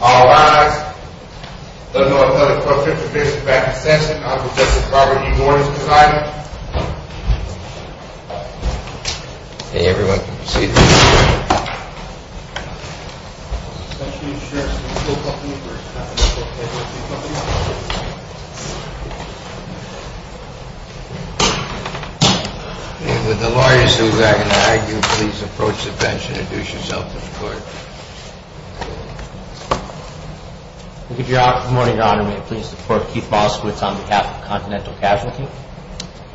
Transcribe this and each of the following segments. All rise. The North Dakota Court of Interdiction, back in session, on the Justice Robert E. Norton's design. May everyone proceed to their seats. And would the lawyers who would like to argue please approach the bench and introduce yourself to the court. Good morning, Your Honor. May it please the Court, Keith Moskowitz on behalf of Continental Casualty.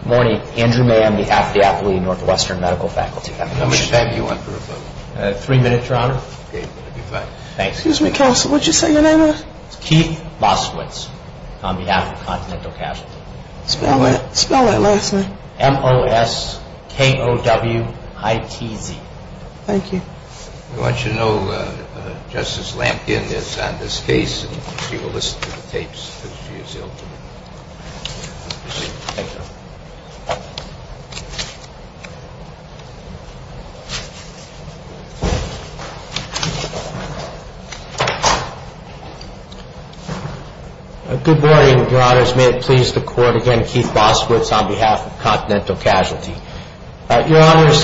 Good morning, Andrew May on behalf of the Appalachian Northwestern Medical Faculty. How many time do you want for a vote? Three minutes, Your Honor. Okay, that would be fine. Thanks. Excuse me, counsel, would you say your name, please? Keith Moskowitz on behalf of Continental Casualty. Spell that last name. M-O-S-K-O-W-I-T-Z. Thank you. We want you to know Justice Lamkin is on this case and she will listen to the tapes as she is able to. Good morning, Your Honors. May it please the Court again, Keith Moskowitz on behalf of Continental Casualty. Your Honors,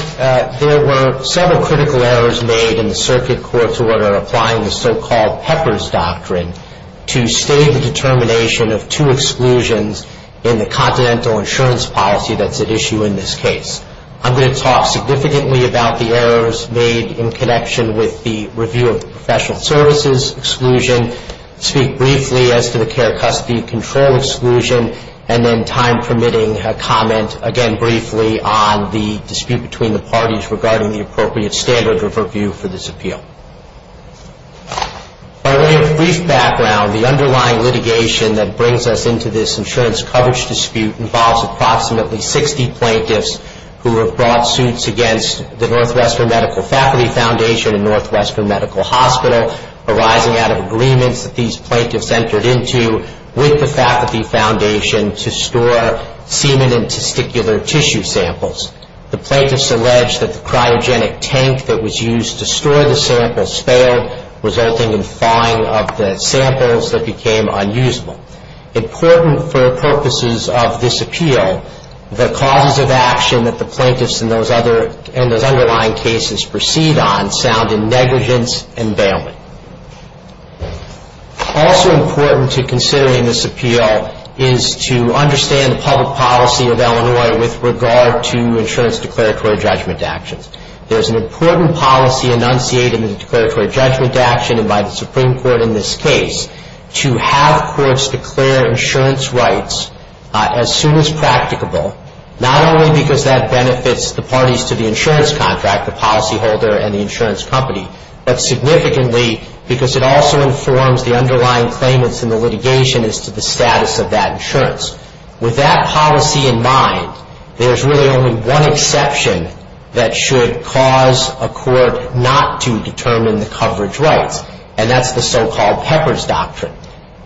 there were several critical errors made in the circuit court's order applying the so-called Pepper's Doctrine to state the determination of two exclusions in the Continental insurance policy that's at issue in this case. I'm going to talk significantly about the errors made in connection with the review of professional services exclusion, speak briefly as to the care custody control exclusion, and then time permitting, comment again briefly on the dispute between the parties regarding the appropriate standard of review for this appeal. By way of brief background, the underlying litigation that brings us into this insurance coverage dispute involves approximately 60 plaintiffs who have brought suits against the Northwestern Medical Faculty Foundation and Northwestern Medical Hospital, arising out of agreements that these plaintiffs entered into with the faculty foundation to store semen and testicular tissue samples. The plaintiffs allege that the cryogenic tank that was used to store the samples failed, resulting in thawing of the samples that became unusable. Important for purposes of this appeal, the causes of action that the plaintiffs and those underlying cases proceed on sound in negligence and bailment. Also important to consider in this appeal is to understand the public policy of Illinois with regard to insurance declaratory judgment actions. There's an important policy enunciated in the declaratory judgment action and by the Supreme Court in this case to have courts declare insurance rights as soon as practicable, not only because that benefits the parties to the insurance contract, the policyholder and the insurance company, but significantly because it also informs the underlying claimants in the litigation as to the status of that insurance. With that policy in mind, there's really only one exception that should cause a court not to determine the coverage rights, and that's the so-called Pepper's Doctrine.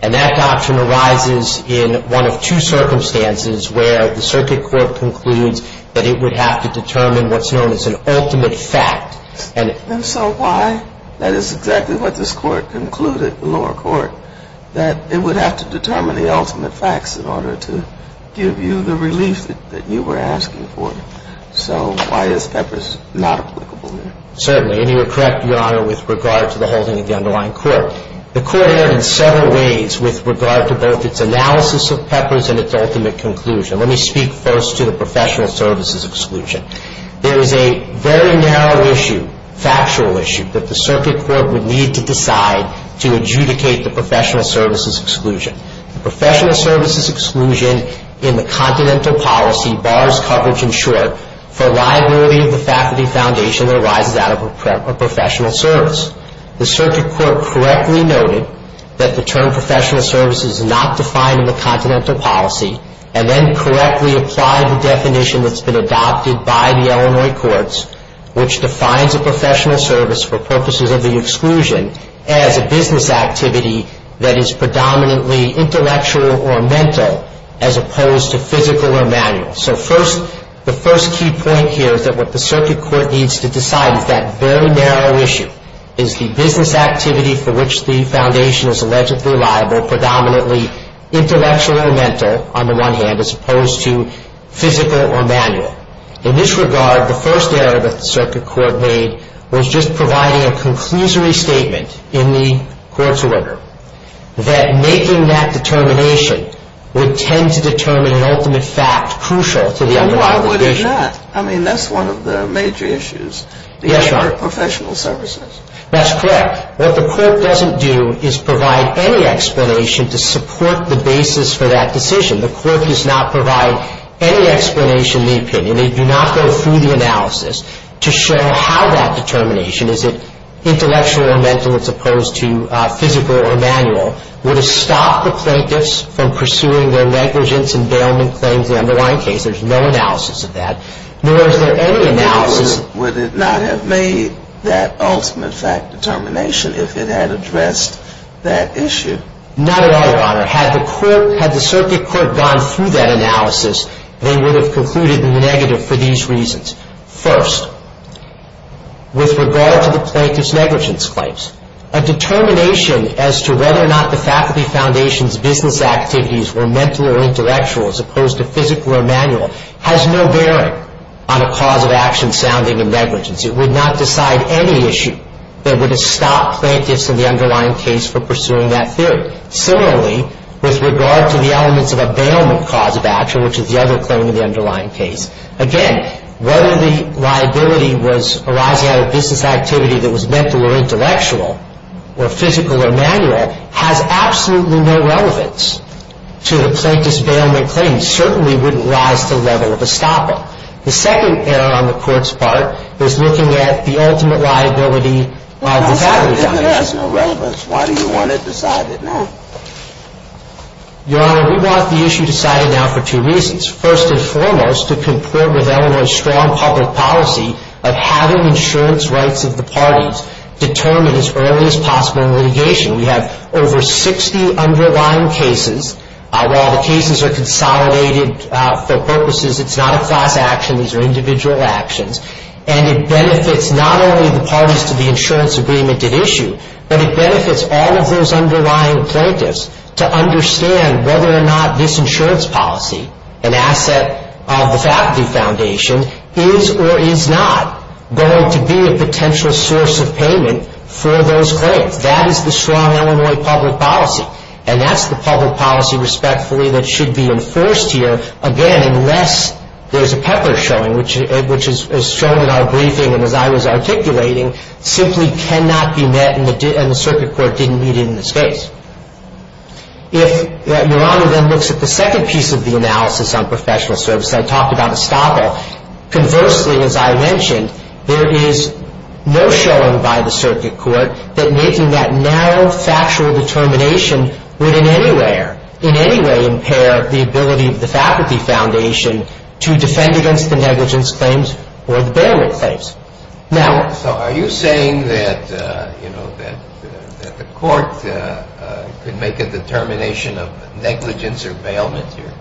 And that doctrine arises in one of two circumstances where the circuit court concludes that it would have to determine what's known as an ultimate fact. And so why? That is exactly what this court concluded, the lower court, that it would have to determine the ultimate facts in order to give you the relief that you were asking for. So why is Pepper's not applicable there? Certainly. And you are correct, Your Honor, with regard to the holding of the underlying court. The court erred in several ways with regard to both its analysis of Pepper's and its ultimate conclusion. Let me speak first to the professional services exclusion. There is a very narrow issue, factual issue, that the circuit court would need to decide to adjudicate the professional services exclusion. The professional services exclusion in the Continental Policy bars coverage, in short, for liability of the faculty foundation that arises out of a professional service. The circuit court correctly noted that the term professional services is not defined in the Continental Policy and then correctly applied the definition that's been adopted by the Illinois courts, which defines a professional service for purposes of the exclusion as a business activity that is predominantly intellectual or mental as opposed to physical or manual. So the first key point here is that what the circuit court needs to decide is that very narrow issue, is the business activity for which the foundation is allegedly liable, intellectual or mental, on the one hand, as opposed to physical or manual. In this regard, the first error that the circuit court made was just providing a conclusory statement in the court's order that making that determination would tend to determine an ultimate fact crucial to the underlying provision. And why would it not? I mean, that's one of the major issues. Yes, Your Honor. The error of professional services. That's correct. What the court doesn't do is provide any explanation to support the basis for that decision. The court does not provide any explanation in the opinion. They do not go through the analysis to show how that determination, is it intellectual or mental as opposed to physical or manual, would have stopped the plaintiffs from pursuing their negligence and bailment claims in the underlying case. There's no analysis of that. Nor is there any analysis. Would it not have made that ultimate fact determination if it had addressed that issue? Not at all, Your Honor. Had the circuit court gone through that analysis, they would have concluded negative for these reasons. First, with regard to the plaintiff's negligence claims, a determination as to whether or not the faculty foundation's business activities were mental or intellectual as opposed to physical or manual has no bearing on a cause of action sounding in negligence. It would not decide any issue that would have stopped plaintiffs in the underlying case from pursuing that theory. Similarly, with regard to the elements of a bailment cause of action, which is the other claim in the underlying case, again, whether the liability was arising out of business activity that was mental or intellectual or physical or manual has absolutely no relevance to a plaintiff's bailment claim. It certainly wouldn't rise to the level of a stopper. The second error on the Court's part is looking at the ultimate liability of the faculty foundation. It has no relevance. Why do you want to decide it now? Your Honor, we want the issue decided now for two reasons. First and foremost, to comport with Illinois' strong public policy of having insurance rights of the parties determined as early as possible in litigation. We have over 60 underlying cases. While the cases are consolidated for purposes, it's not a class action. These are individual actions. And it benefits not only the parties to the insurance agreement at issue, but it benefits all of those underlying plaintiffs to understand whether or not this insurance policy, an asset of the faculty foundation, is or is not going to be a potential source of payment for those claims. That is the strong Illinois public policy. And that's the public policy, respectfully, that should be enforced here, again, unless there's a pepper showing, which is shown in our briefing and as I was articulating, simply cannot be met and the Circuit Court didn't meet it in this case. If Your Honor then looks at the second piece of the analysis on professional service, I talked about estoppel. Conversely, as I mentioned, there is no showing by the Circuit Court that making that narrow factual determination would in any way impair the ability of the faculty foundation to defend against the negligence claims or the bailout claims. So are you saying that the court could make a determination of negligence or bailment here?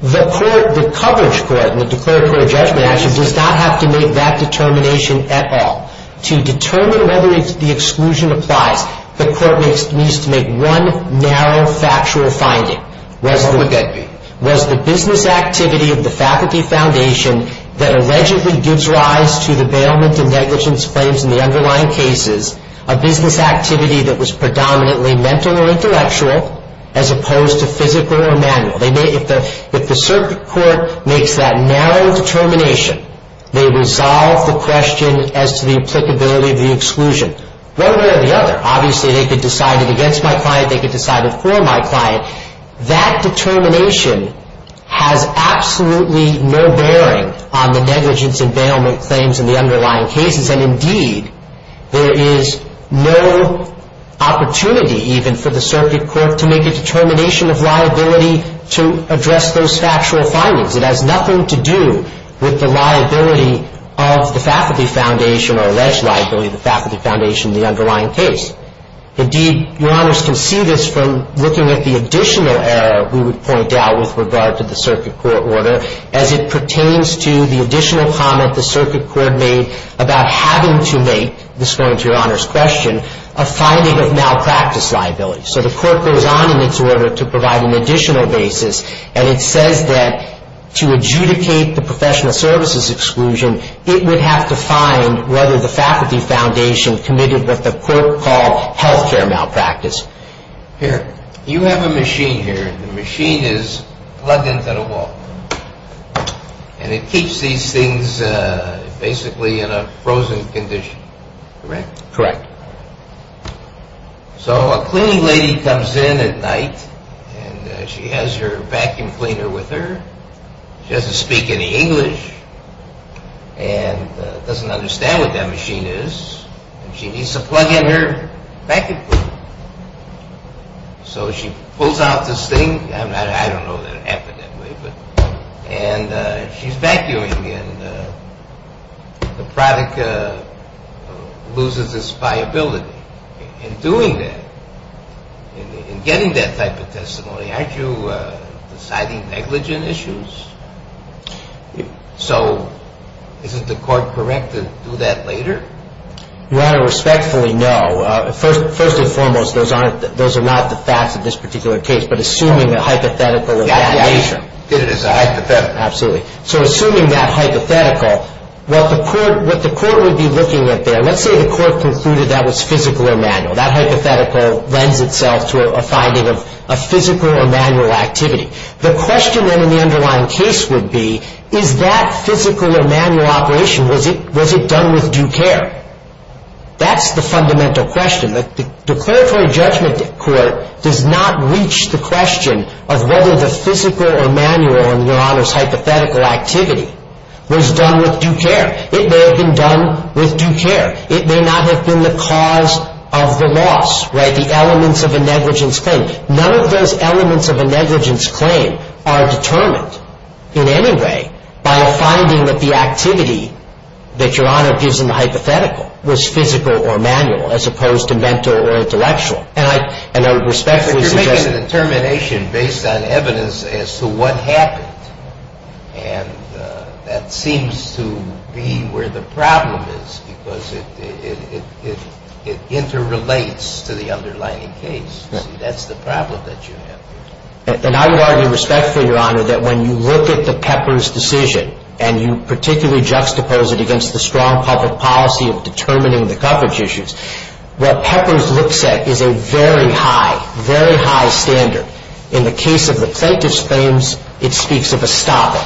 The coverage court and the declared court of judgment actually does not have to make that determination at all. To determine whether the exclusion applies, the court needs to make one narrow factual finding. What would that be? Was the business activity of the faculty foundation that allegedly gives rise to the bailment and negligence claims in the underlying cases a business activity that was predominantly mental or intellectual as opposed to physical or manual? If the Circuit Court makes that narrow determination, they resolve the question as to the applicability of the exclusion. One way or the other. Obviously, they could decide it against my client. They could decide it for my client. That determination has absolutely no bearing on the negligence and bailment claims in the underlying cases. And indeed, there is no opportunity even for the Circuit Court to make a determination of liability to address those factual findings. It has nothing to do with the liability of the faculty foundation or alleged liability of the faculty foundation in the underlying case. Indeed, Your Honors can see this from looking at the additional error we would point out with regard to the Circuit Court order as it pertains to the additional comment the Circuit Court made about having to make, this going to Your Honors' question, a finding of malpractice liability. So the court goes on in its order to provide an additional basis, and it says that to adjudicate the professional services exclusion, it would have to find whether the faculty foundation committed what the court called health care malpractice. Here, you have a machine here. The machine is plugged into the wall. And it keeps these things basically in a frozen condition. Correct? Correct. So a cleaning lady comes in at night, and she has her vacuum cleaner with her. She doesn't speak any English and doesn't understand what that machine is, and she needs to plug in her vacuum cleaner. So she pulls out this thing. I don't know that it happened that way. And she's vacuuming, and the product loses its viability. In doing that, in getting that type of testimony, aren't you deciding negligent issues? So isn't the court correct to do that later? Your Honor, respectfully, no. First and foremost, those are not the facts of this particular case, but assuming the hypothetical is that nature. Yeah, I did it as a hypothetical. Absolutely. So assuming that hypothetical, what the court would be looking at there, let's say the court concluded that was physical or manual. That hypothetical lends itself to a finding of a physical or manual activity. The question then in the underlying case would be, is that physical or manual operation, was it done with due care? That's the fundamental question. The declaratory judgment court does not reach the question of whether the physical or manual, and, Your Honor, it's hypothetical activity, was done with due care. It may have been done with due care. It may not have been the cause of the loss, right, the elements of a negligence claim. None of those elements of a negligence claim are determined in any way by a finding that the activity that Your Honor gives in the hypothetical was physical or manual, as opposed to mental or intellectual. And I respectfully suggest that. But you're making a determination based on evidence as to what happened. And that seems to be where the problem is, because it interrelates to the underlying case. That's the problem that you have. And I would argue respectfully, Your Honor, that when you look at the Peppers decision, and you particularly juxtapose it against the strong public policy of determining the coverage issues, what Peppers looks at is a very high, very high standard. In the case of the plaintiff's claims, it speaks of estoppel,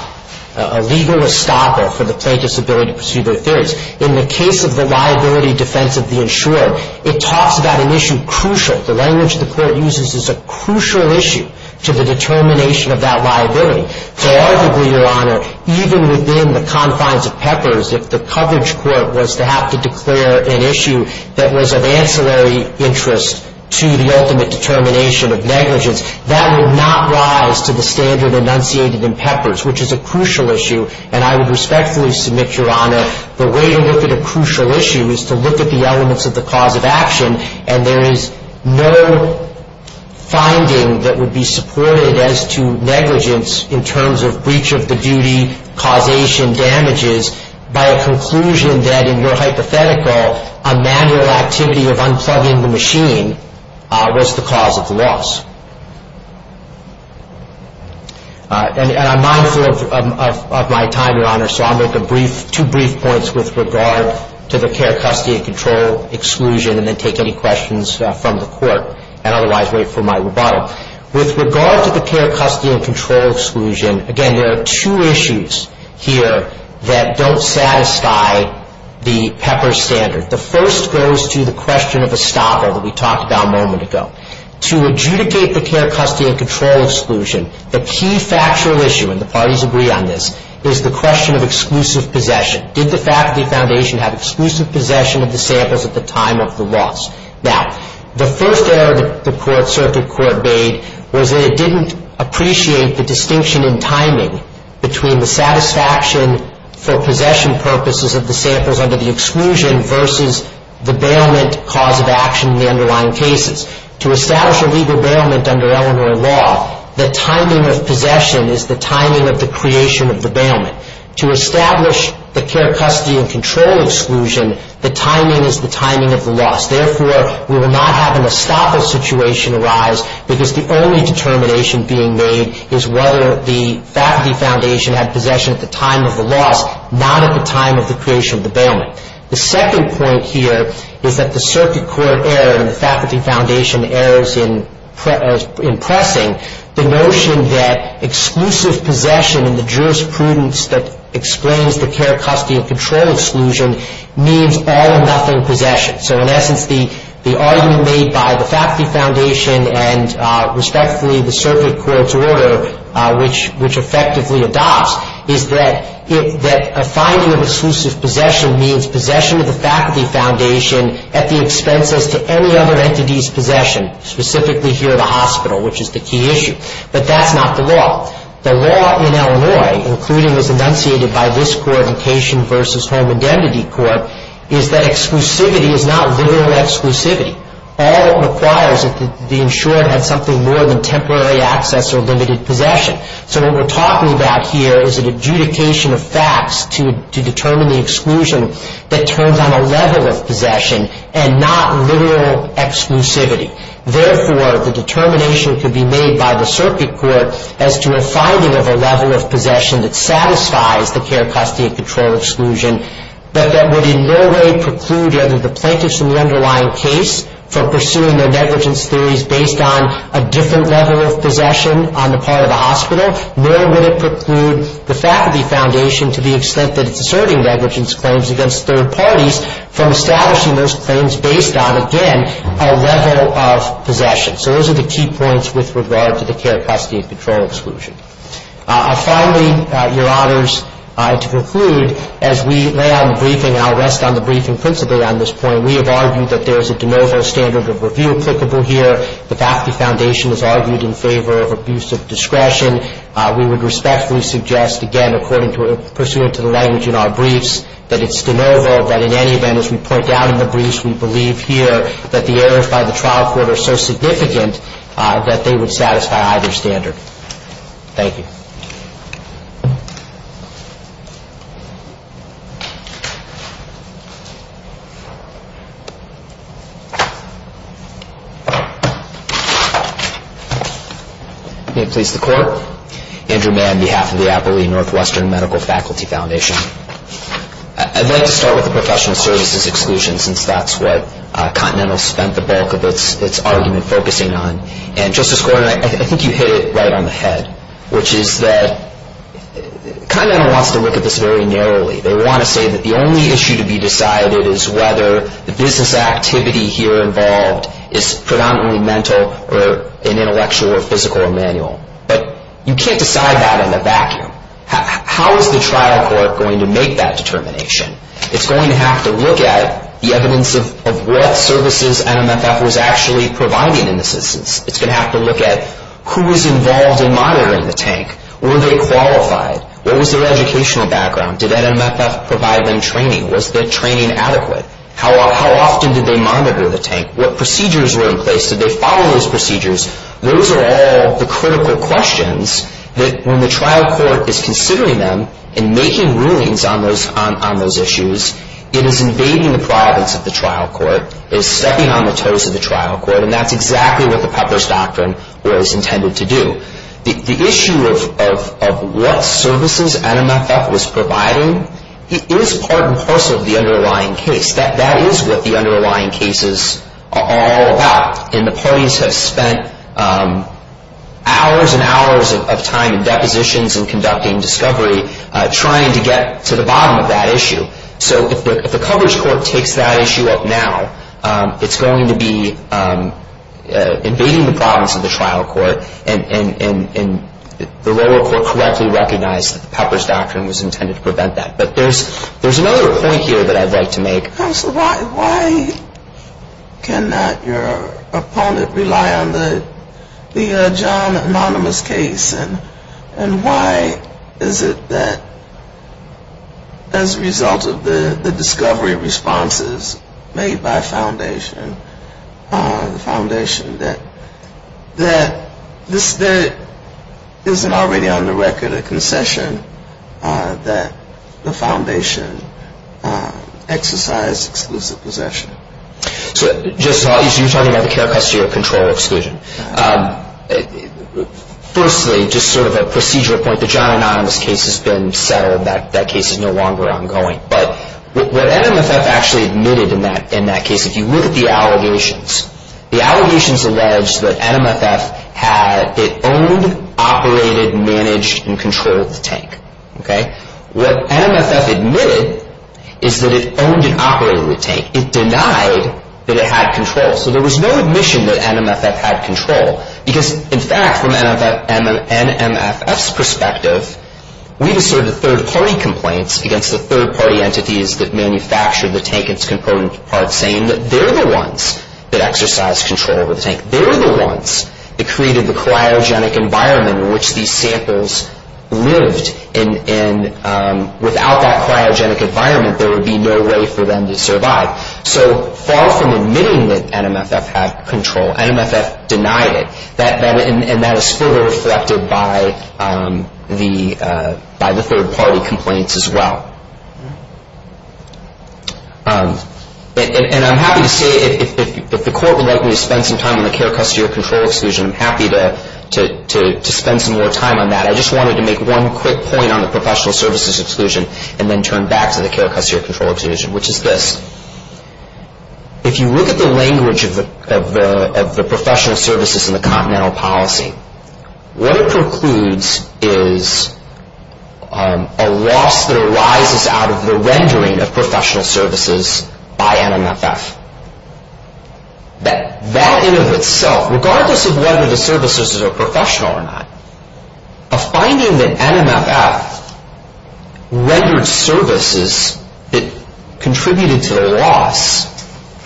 a legal estoppel for the plaintiff's ability to pursue their theories. In the case of the liability defense of the insurer, it talks about an issue crucial. The language the court uses is a crucial issue to the determination of that liability. So arguably, Your Honor, even within the confines of Peppers, if the coverage court was to have to declare an issue that was of ancillary interest to the ultimate determination of negligence, that would not rise to the standard enunciated in Peppers, which is a crucial issue. And I would respectfully submit, Your Honor, the way to look at a crucial issue is to look at the elements of the cause of action. And there is no finding that would be supported as to negligence in terms of breach of the duty, causation, damages, by a conclusion that in your hypothetical, a manual activity of unplugging the machine was the cause of the loss. And I'm mindful of my time, Your Honor, so I'll make two brief points with regard to the care, custody, and control exclusion and then take any questions from the court and otherwise wait for my rebuttal. With regard to the care, custody, and control exclusion, again, there are two issues here that don't satisfy the Peppers standard. The first goes to the question of estoppel that we talked about a moment ago. To adjudicate the care, custody, and control exclusion, the key factual issue, and the parties agree on this, is the question of exclusive possession. Did the faculty foundation have exclusive possession of the samples at the time of the loss? Now, the first error the circuit court made was that it didn't appreciate the distinction in timing between the satisfaction for possession purposes of the samples under the exclusion versus the bailment cause of action in the underlying cases. To establish a legal bailment under Eleanor law, the timing of possession is the timing of the creation of the bailment. To establish the care, custody, and control exclusion, the timing is the timing of the loss. Therefore, we will not have an estoppel situation arise because the only determination being made is whether the faculty foundation had possession at the time of the loss, not at the time of the creation of the bailment. The second point here is that the circuit court error and the faculty foundation errors in pressing the notion that exclusive possession in the jurisprudence that explains the care, custody, and control exclusion means all or nothing possession. So, in essence, the argument made by the faculty foundation and, respectfully, the circuit court's order, which effectively adopts, is that a finding of exclusive possession means possession of the faculty foundation at the expense as to any other entity's possession, specifically here at the hospital, which is the key issue. But that's not the law. The law in Illinois, including as enunciated by this Coordination versus Home Indemnity Court, is that exclusivity is not literal exclusivity. All it requires is that the insured had something more than temporary access or limited possession. So what we're talking about here is an adjudication of facts to determine the exclusion that turns on a level of possession and not literal exclusivity. Therefore, the determination could be made by the circuit court as to a finding of a level of possession that satisfies the care, custody, and control exclusion, but that would in no way preclude either the plaintiffs in the underlying case from pursuing their negligence theories based on a different level of possession on the part of the hospital, nor would it preclude the faculty foundation to the extent that it's asserting negligence claims against third parties from establishing those claims based on, again, a level of possession. So those are the key points with regard to the care, custody, and control exclusion. Finally, Your Honors, to conclude, as we lay out the briefing, and I'll rest on the briefing principally on this point, we have argued that there is a de novo standard of review applicable here. The faculty foundation has argued in favor of abuse of discretion. We would respectfully suggest, again, according to, pursuant to the language in our briefs, that it's de novo, that in any event, as we point out in the briefs, we believe here that the errors by the trial court are so significant that they would satisfy either standard. Thank you. May it please the Court. Andrew Mann, on behalf of the Applee Northwestern Medical Faculty Foundation. I'd like to start with the professional services exclusion, since that's what Continental spent the bulk of its argument focusing on. And, Justice Gordon, I think you hit it right on the head, which is that Continental wants to look at this very narrowly. They want to say that the only issue to be decided is whether the business activity here involved is predominantly mental or an intellectual or physical or manual. But you can't decide that in a vacuum. How is the trial court going to make that determination? It's going to have to look at the evidence of what services NMFF was actually providing in this instance. It's going to have to look at who was involved in monitoring the tank. Were they qualified? What was their educational background? Did NMFF provide them training? Was the training adequate? How often did they monitor the tank? What procedures were in place? Did they follow those procedures? Those are all the critical questions that when the trial court is considering them and making rulings on those issues, it is invading the privacy of the trial court. It is stepping on the toes of the trial court. And that's exactly what the Pepper's Doctrine was intended to do. The issue of what services NMFF was providing is part and parcel of the underlying case. That is what the underlying cases are all about. And the parties have spent hours and hours of time in depositions and conducting discovery trying to get to the bottom of that issue. So if the coverage court takes that issue up now, it's going to be invading the promise of the trial court and the lower court correctly recognized that the Pepper's Doctrine was intended to prevent that. But there's another point here that I'd like to make. Counsel, why cannot your opponent rely on the John Anonymous case? And why is it that as a result of the discovery responses made by the foundation, that there isn't already on the record a concession that the foundation exercised exclusive possession? So you're talking about the care custody or control exclusion. Firstly, just sort of a procedure point, the John Anonymous case has been settled. That case is no longer ongoing. But what NMFF actually admitted in that case, if you look at the allegations, the allegations allege that NMFF owned, operated, managed, and controlled the tank. What NMFF admitted is that it owned and operated the tank. It denied that it had control. So there was no admission that NMFF had control. Because in fact, from NMFF's perspective, we've asserted third-party complaints against the third-party entities that manufactured the tank and its component parts, saying that they're the ones that exercised control over the tank. They're the ones that created the cryogenic environment in which these samples lived. And without that cryogenic environment, there would be no way for them to survive. So far from admitting that NMFF had control, NMFF denied it. And that is fully reflected by the third-party complaints as well. And I'm happy to say, if the Court would like me to spend some time on the care, custody, or control exclusion, I'm happy to spend some more time on that. I just wanted to make one quick point on the professional services exclusion and then turn back to the care, custody, or control exclusion, which is this. If you look at the language of the professional services in the continental policy, what it precludes is a loss that arises out of the rendering of professional services by NMFF. That in and of itself, regardless of whether the services are professional or not, a finding that NMFF rendered services that contributed to the loss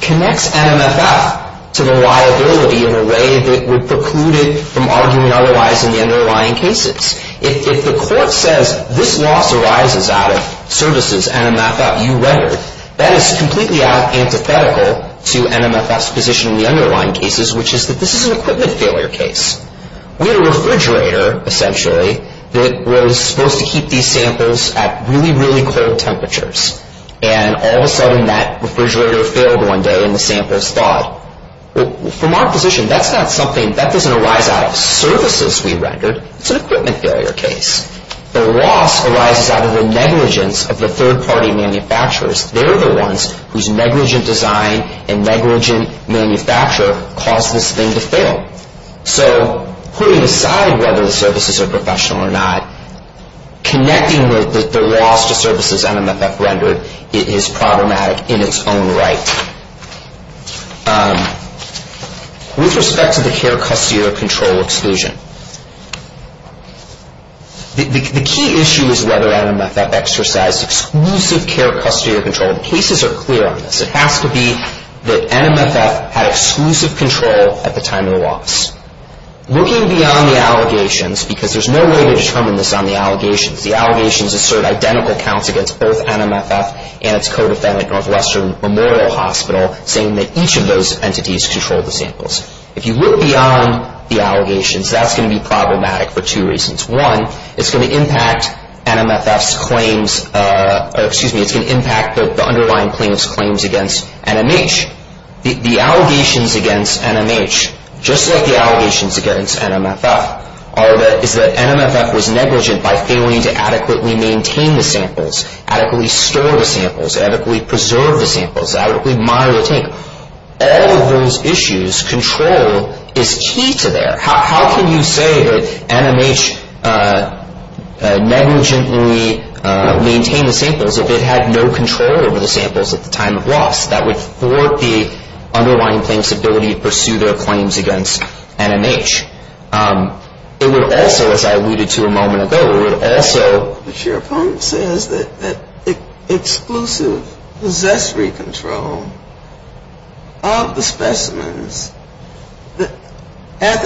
connects NMFF to the liability in a way that would preclude it from arguing otherwise in the underlying cases. If the Court says this loss arises out of services NMFF, you rendered, that is completely antithetical to NMFF's position in the underlying cases, which is that this is an equipment failure case. We had a refrigerator, essentially, that was supposed to keep these samples at really, really cold temperatures, and all of a sudden that refrigerator failed one day and the samples thawed. From our position, that doesn't arise out of services we rendered. It's an equipment failure case. The loss arises out of the negligence of the third-party manufacturers. They're the ones whose negligent design and negligent manufacture caused this thing to fail. So putting aside whether the services are professional or not, connecting the loss to services NMFF rendered is problematic in its own right. With respect to the care custodial control exclusion, the key issue is whether NMFF exercised exclusive care custodial control. The cases are clear on this. It has to be that NMFF had exclusive control at the time of the loss. Looking beyond the allegations, because there's no way to determine this on the allegations, the allegations assert identical counts against both NMFF and its co-defendant, Northwestern Memorial Hospital, saying that each of those entities controlled the samples. If you look beyond the allegations, that's going to be problematic for two reasons. One, it's going to impact the underlying plaintiff's claims against NMH. The allegations against NMH, just like the allegations against NMFF, are that NMFF was negligent by failing to adequately maintain the samples, adequately store the samples, adequately preserve the samples, adequately monitor the tank. All of those issues, control is key to there. How can you say that NMH negligently maintained the samples if it had no control over the samples at the time of loss? That would thwart the underlying plaintiff's ability to pursue their claims against NMH. It would also, as I alluded to a moment ago, it would also... The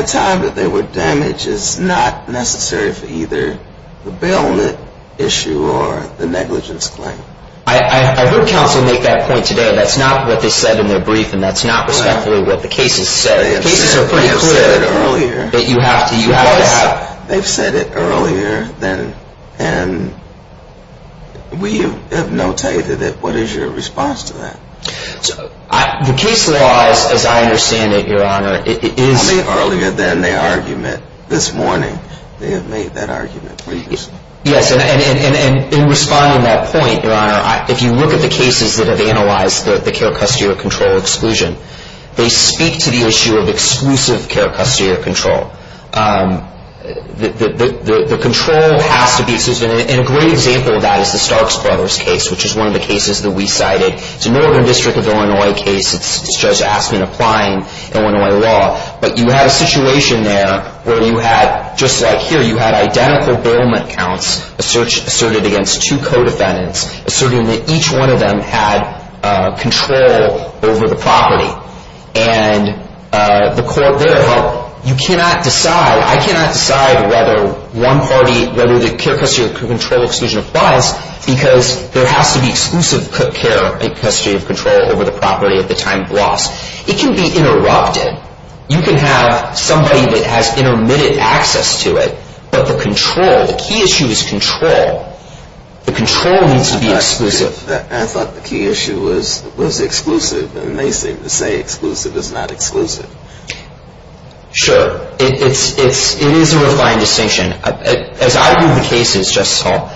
claim that they were damaged is not necessary for either the bailment issue or the negligence claim. I heard counsel make that point today. That's not what they said in their brief, and that's not respectfully what the cases said. The cases are pretty clear. They have said it earlier. That you have to have... What? They've said it earlier than... We have no tally to that. What is your response to that? The case law, as I understand it, Your Honor, it is... They made earlier than their argument this morning. They have made that argument. Yes, and in responding to that point, Your Honor, if you look at the cases that have analyzed the care custody or control exclusion, they speak to the issue of exclusive care custody or control. The control has to be... And a great example of that is the Starks Brothers case, which is one of the cases that we cited. It's a Northern District of Illinois case. It's Judge Aspin applying Illinois law. But you have a situation there where you had, just like here, you had identical bailment counts asserted against two co-defendants, asserting that each one of them had control over the property. And the court there... You cannot decide... I cannot decide whether one party, whether the care custody or control exclusion applies because there has to be exclusive care custody or control over the property at the time of loss. It can be interrupted. You can have somebody that has intermittent access to it, but the control... The key issue is control. The control needs to be exclusive. I thought the key issue was exclusive, and they seem to say exclusive is not exclusive. Sure. It is a refined distinction. As I view the cases, Justice Hall,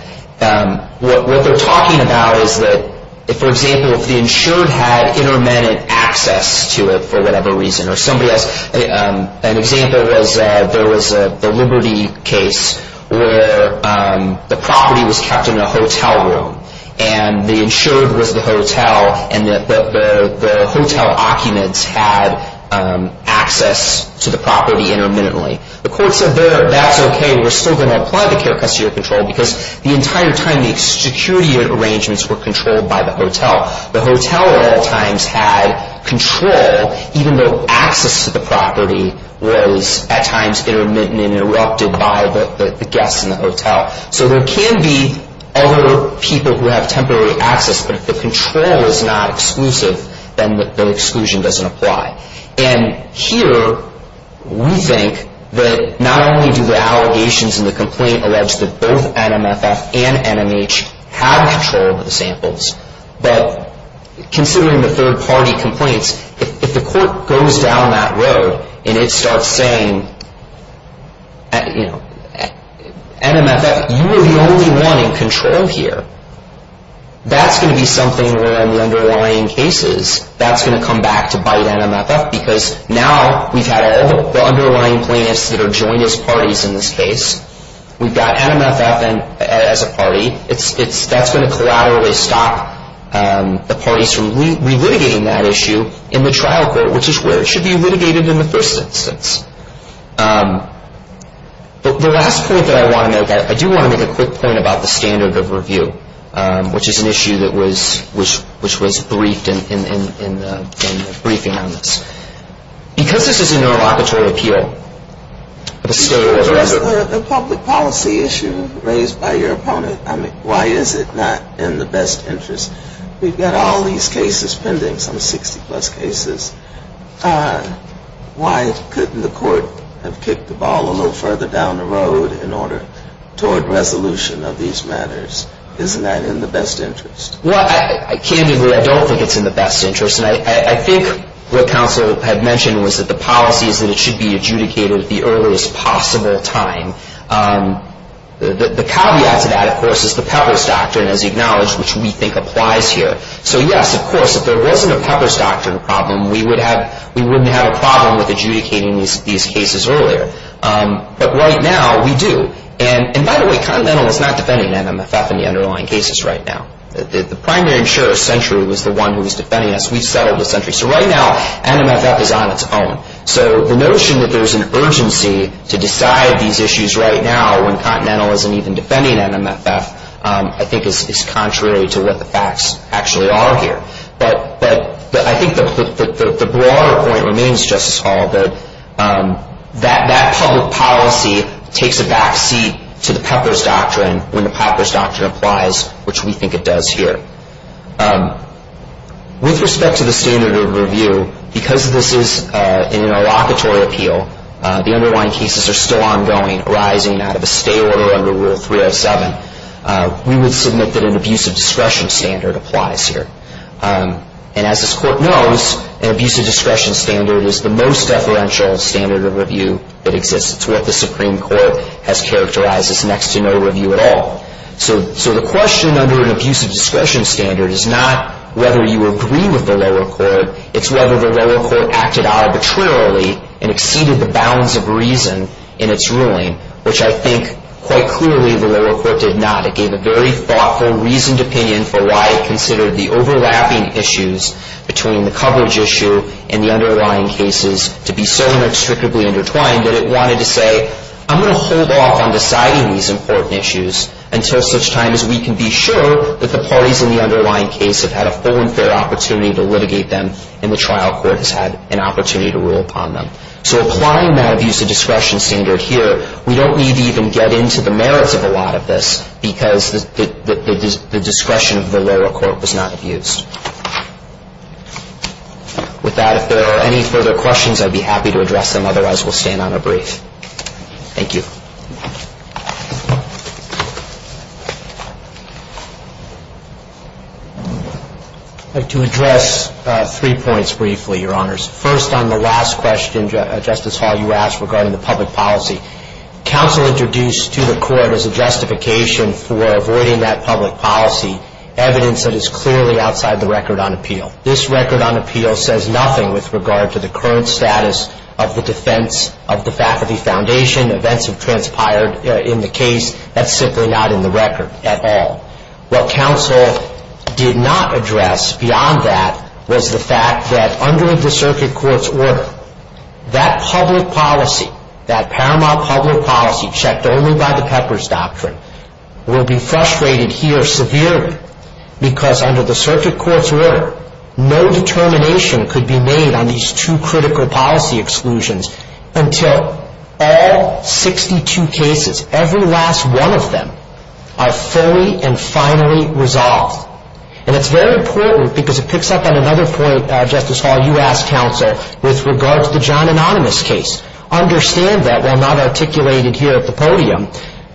what they're talking about is that, for example, if the insured had intermittent access to it for whatever reason, or somebody else... An example was there was the Liberty case where the property was kept in a hotel room, and the insured was the hotel, and the hotel occupants had access to the property intermittently. The court said there, that's okay, we're still going to apply the care custody or control because the entire time the security arrangements were controlled by the hotel. The hotel at all times had control, even though access to the property was at times intermittent and interrupted by the guests in the hotel. So there can be other people who have temporary access, but if the control is not exclusive, then the exclusion doesn't apply. And here, we think that not only do the allegations in the complaint allege that both NMFF and NMH have control of the samples, but considering the third-party complaints, if the court goes down that road and it starts saying, NMFF, you are the only one in control here, that's going to be something where in the underlying cases, that's going to come back to bite NMFF because now we've had all the underlying plaintiffs that are joined as parties in this case. We've got NMFF as a party. That's going to collaterally stop the parties from relitigating that issue in the trial court, which is where it should be litigated in the first instance. But the last point that I want to make, I do want to make a quick point about the standard of review, which is an issue that was briefed in the briefing on this. Because this is a neurolocatory appeal, the state of the reserve. A public policy issue raised by your opponent. I mean, why is it not in the best interest? We've got all these cases pending, some 60-plus cases. Why couldn't the court have kicked the ball a little further down the road in order toward resolution of these matters? Isn't that in the best interest? Well, candidly, I don't think it's in the best interest. And I think what counsel had mentioned was that the policy is that it should be adjudicated at the earliest possible time. The caveat to that, of course, is the Peppers Doctrine, as acknowledged, which we think applies here. So, yes, of course, if there wasn't a Peppers Doctrine problem, we wouldn't have a problem with adjudicating these cases earlier. But right now, we do. And, by the way, Continental is not defending NMFF in the underlying cases right now. The primary insurer, Century, was the one who was defending us. We settled with Century. So right now, NMFF is on its own. So the notion that there's an urgency to decide these issues right now when Continental isn't even defending NMFF, I think is contrary to what the facts actually are here. But I think the broader point remains, Justice Hall, that that public policy takes a backseat to the Peppers Doctrine when the Peppers Doctrine applies, which we think it does here. With respect to the standard of review, because this is an interlocutory appeal, the underlying cases are still ongoing, arising out of a stay order under Rule 307. We would submit that an abusive discretion standard applies here. And as this Court knows, an abusive discretion standard is the most deferential standard of review that exists. It's what the Supreme Court has characterized as next to no review at all. So the question under an abusive discretion standard is not whether you agree with the lower court. It's whether the lower court acted arbitrarily and exceeded the bounds of reason in its ruling, which I think, quite clearly, the lower court did not. It gave a very thoughtful, reasoned opinion for why it considered the overlapping issues between the coverage issue and the underlying cases to be so inextricably intertwined that it wanted to say, I'm going to hold off on deciding these important issues until such time as we can be sure that the parties in the underlying case have had a full and fair opportunity to litigate them and the trial court has had an opportunity to rule upon them. So applying that abusive discretion standard here, we don't need to even get into the merits of a lot of this because the discretion of the lower court was not abused. With that, if there are any further questions, I'd be happy to address them. Otherwise, we'll stand on a brief. Thank you. I'd like to address three points briefly, Your Honors. First, on the last question, Justice Hall, you asked regarding the public policy. Counsel introduced to the court as a justification for avoiding that public policy evidence that is clearly outside the record on appeal. This record on appeal says nothing with regard to the current status of the defense of the Faculty Foundation. Events have transpired in the case. That's simply not in the record at all. What counsel did not address beyond that was the fact that under the circuit court's order, that public policy, that paramount public policy checked only by the Pepper's Doctrine, will be frustrated here severely because under the circuit court's order, no determination could be made on these two critical policy exclusions until all 62 cases, every last one of them, are fully and finally resolved. And it's very important because it picks up on another point, Justice Hall, you asked counsel, with regard to the John Anonymous case. Understand that, while not articulated here at the podium,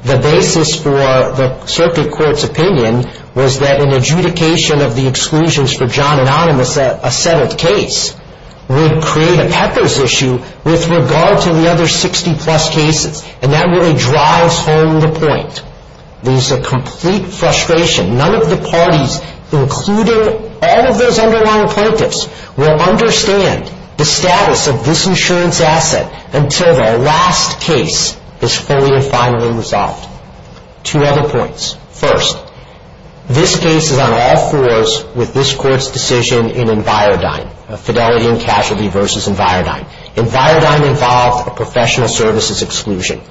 the basis for the circuit court's opinion was that an adjudication of the exclusions for John Anonymous, a settled case, would create a Pepper's issue with regard to the other 60-plus cases. And that really drives home the point. There's a complete frustration. None of the parties, including all of those underlying plaintiffs, will understand the status of this insurance asset until the last case is fully and finally resolved. Two other points. First, this case is on all fours with this Court's decision in Envirodyne, Fidelity and Casualty v. Envirodyne. Envirodyne involved a professional services exclusion.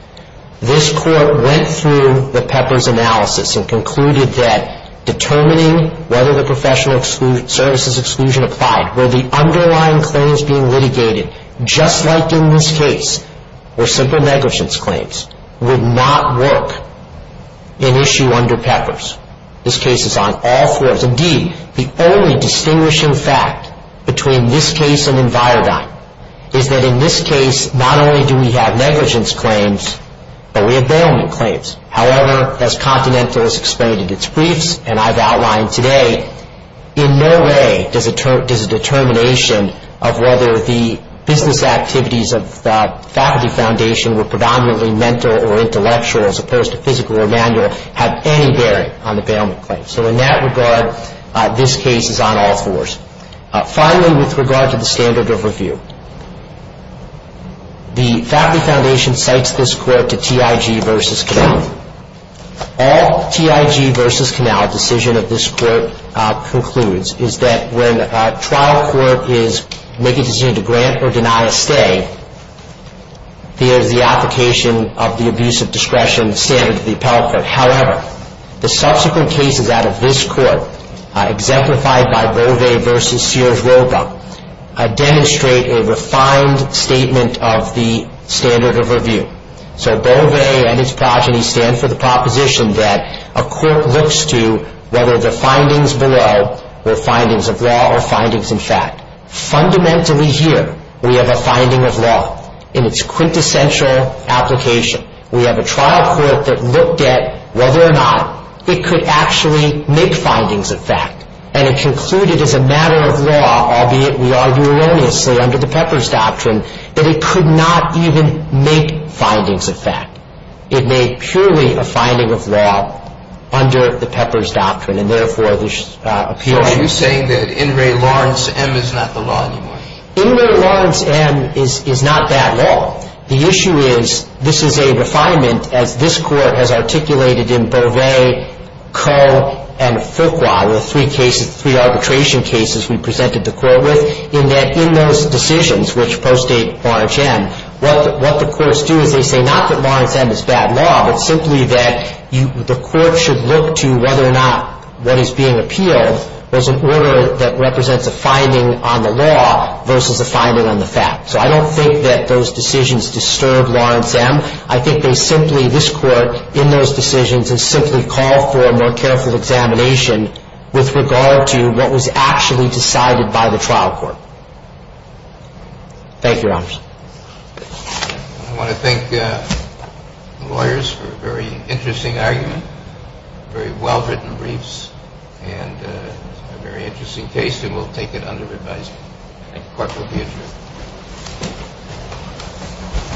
This Court went through the Pepper's analysis and concluded that determining whether the professional services exclusion applied where the underlying claims being litigated, just like in this case, were simple negligence claims, would not work in issue under Pepper's. This case is on all fours. Indeed, the only distinguishing fact between this case and Envirodyne is that in this case, not only do we have negligence claims, but we have bailment claims. However, as Continental has explained in its briefs and I've outlined today, in no way does a determination of whether the business activities of the Faculty Foundation were predominantly mental or intellectual as opposed to physical or manual have any bearing on the bailment claim. So in that regard, this case is on all fours. Finally, with regard to the standard of review, the Faculty Foundation cites this Court to TIG v. Canal. All TIG v. Canal decision of this Court concludes is that when a trial court is making a decision to grant or deny a stay, there is the application of the abuse of discretion standard to the appellate court. However, the subsequent cases out of this Court, exemplified by Bove v. Sears-Roba, demonstrate a refined statement of the standard of review. So Bove and his progeny stand for the proposition that a court looks to whether the findings below were findings of law or findings in fact. Fundamentally here, we have a finding of law in its quintessential application. We have a trial court that looked at whether or not it could actually make findings of fact, and it concluded as a matter of law, albeit we argue erroneously under the Pepper's Doctrine, that it could not even make findings of fact. It made purely a finding of law under the Pepper's Doctrine, and therefore there's appeal. Are you saying that In re Lawrence M is not the law anymore? In re Lawrence M is not that law. The issue is this is a refinement, as this Court has articulated in Bove, Coe, and Fuqua, the three cases, three arbitration cases we presented the Court with, in that in those decisions which postdate Lawrence M, what the courts do is they say not that Lawrence M is bad law, but simply that the Court should look to whether or not what is being appealed was an order that represents a finding on the law versus a finding on the fact. So I don't think that those decisions disturb Lawrence M. I think they simply, this Court, in those decisions has simply called for a more careful examination with regard to what was actually decided by the trial court. Thank you, Your Honors. I want to thank the lawyers for a very interesting argument, very well-written briefs, and a very interesting case, and we'll take it under advisement. Thank you, Court will be adjourned.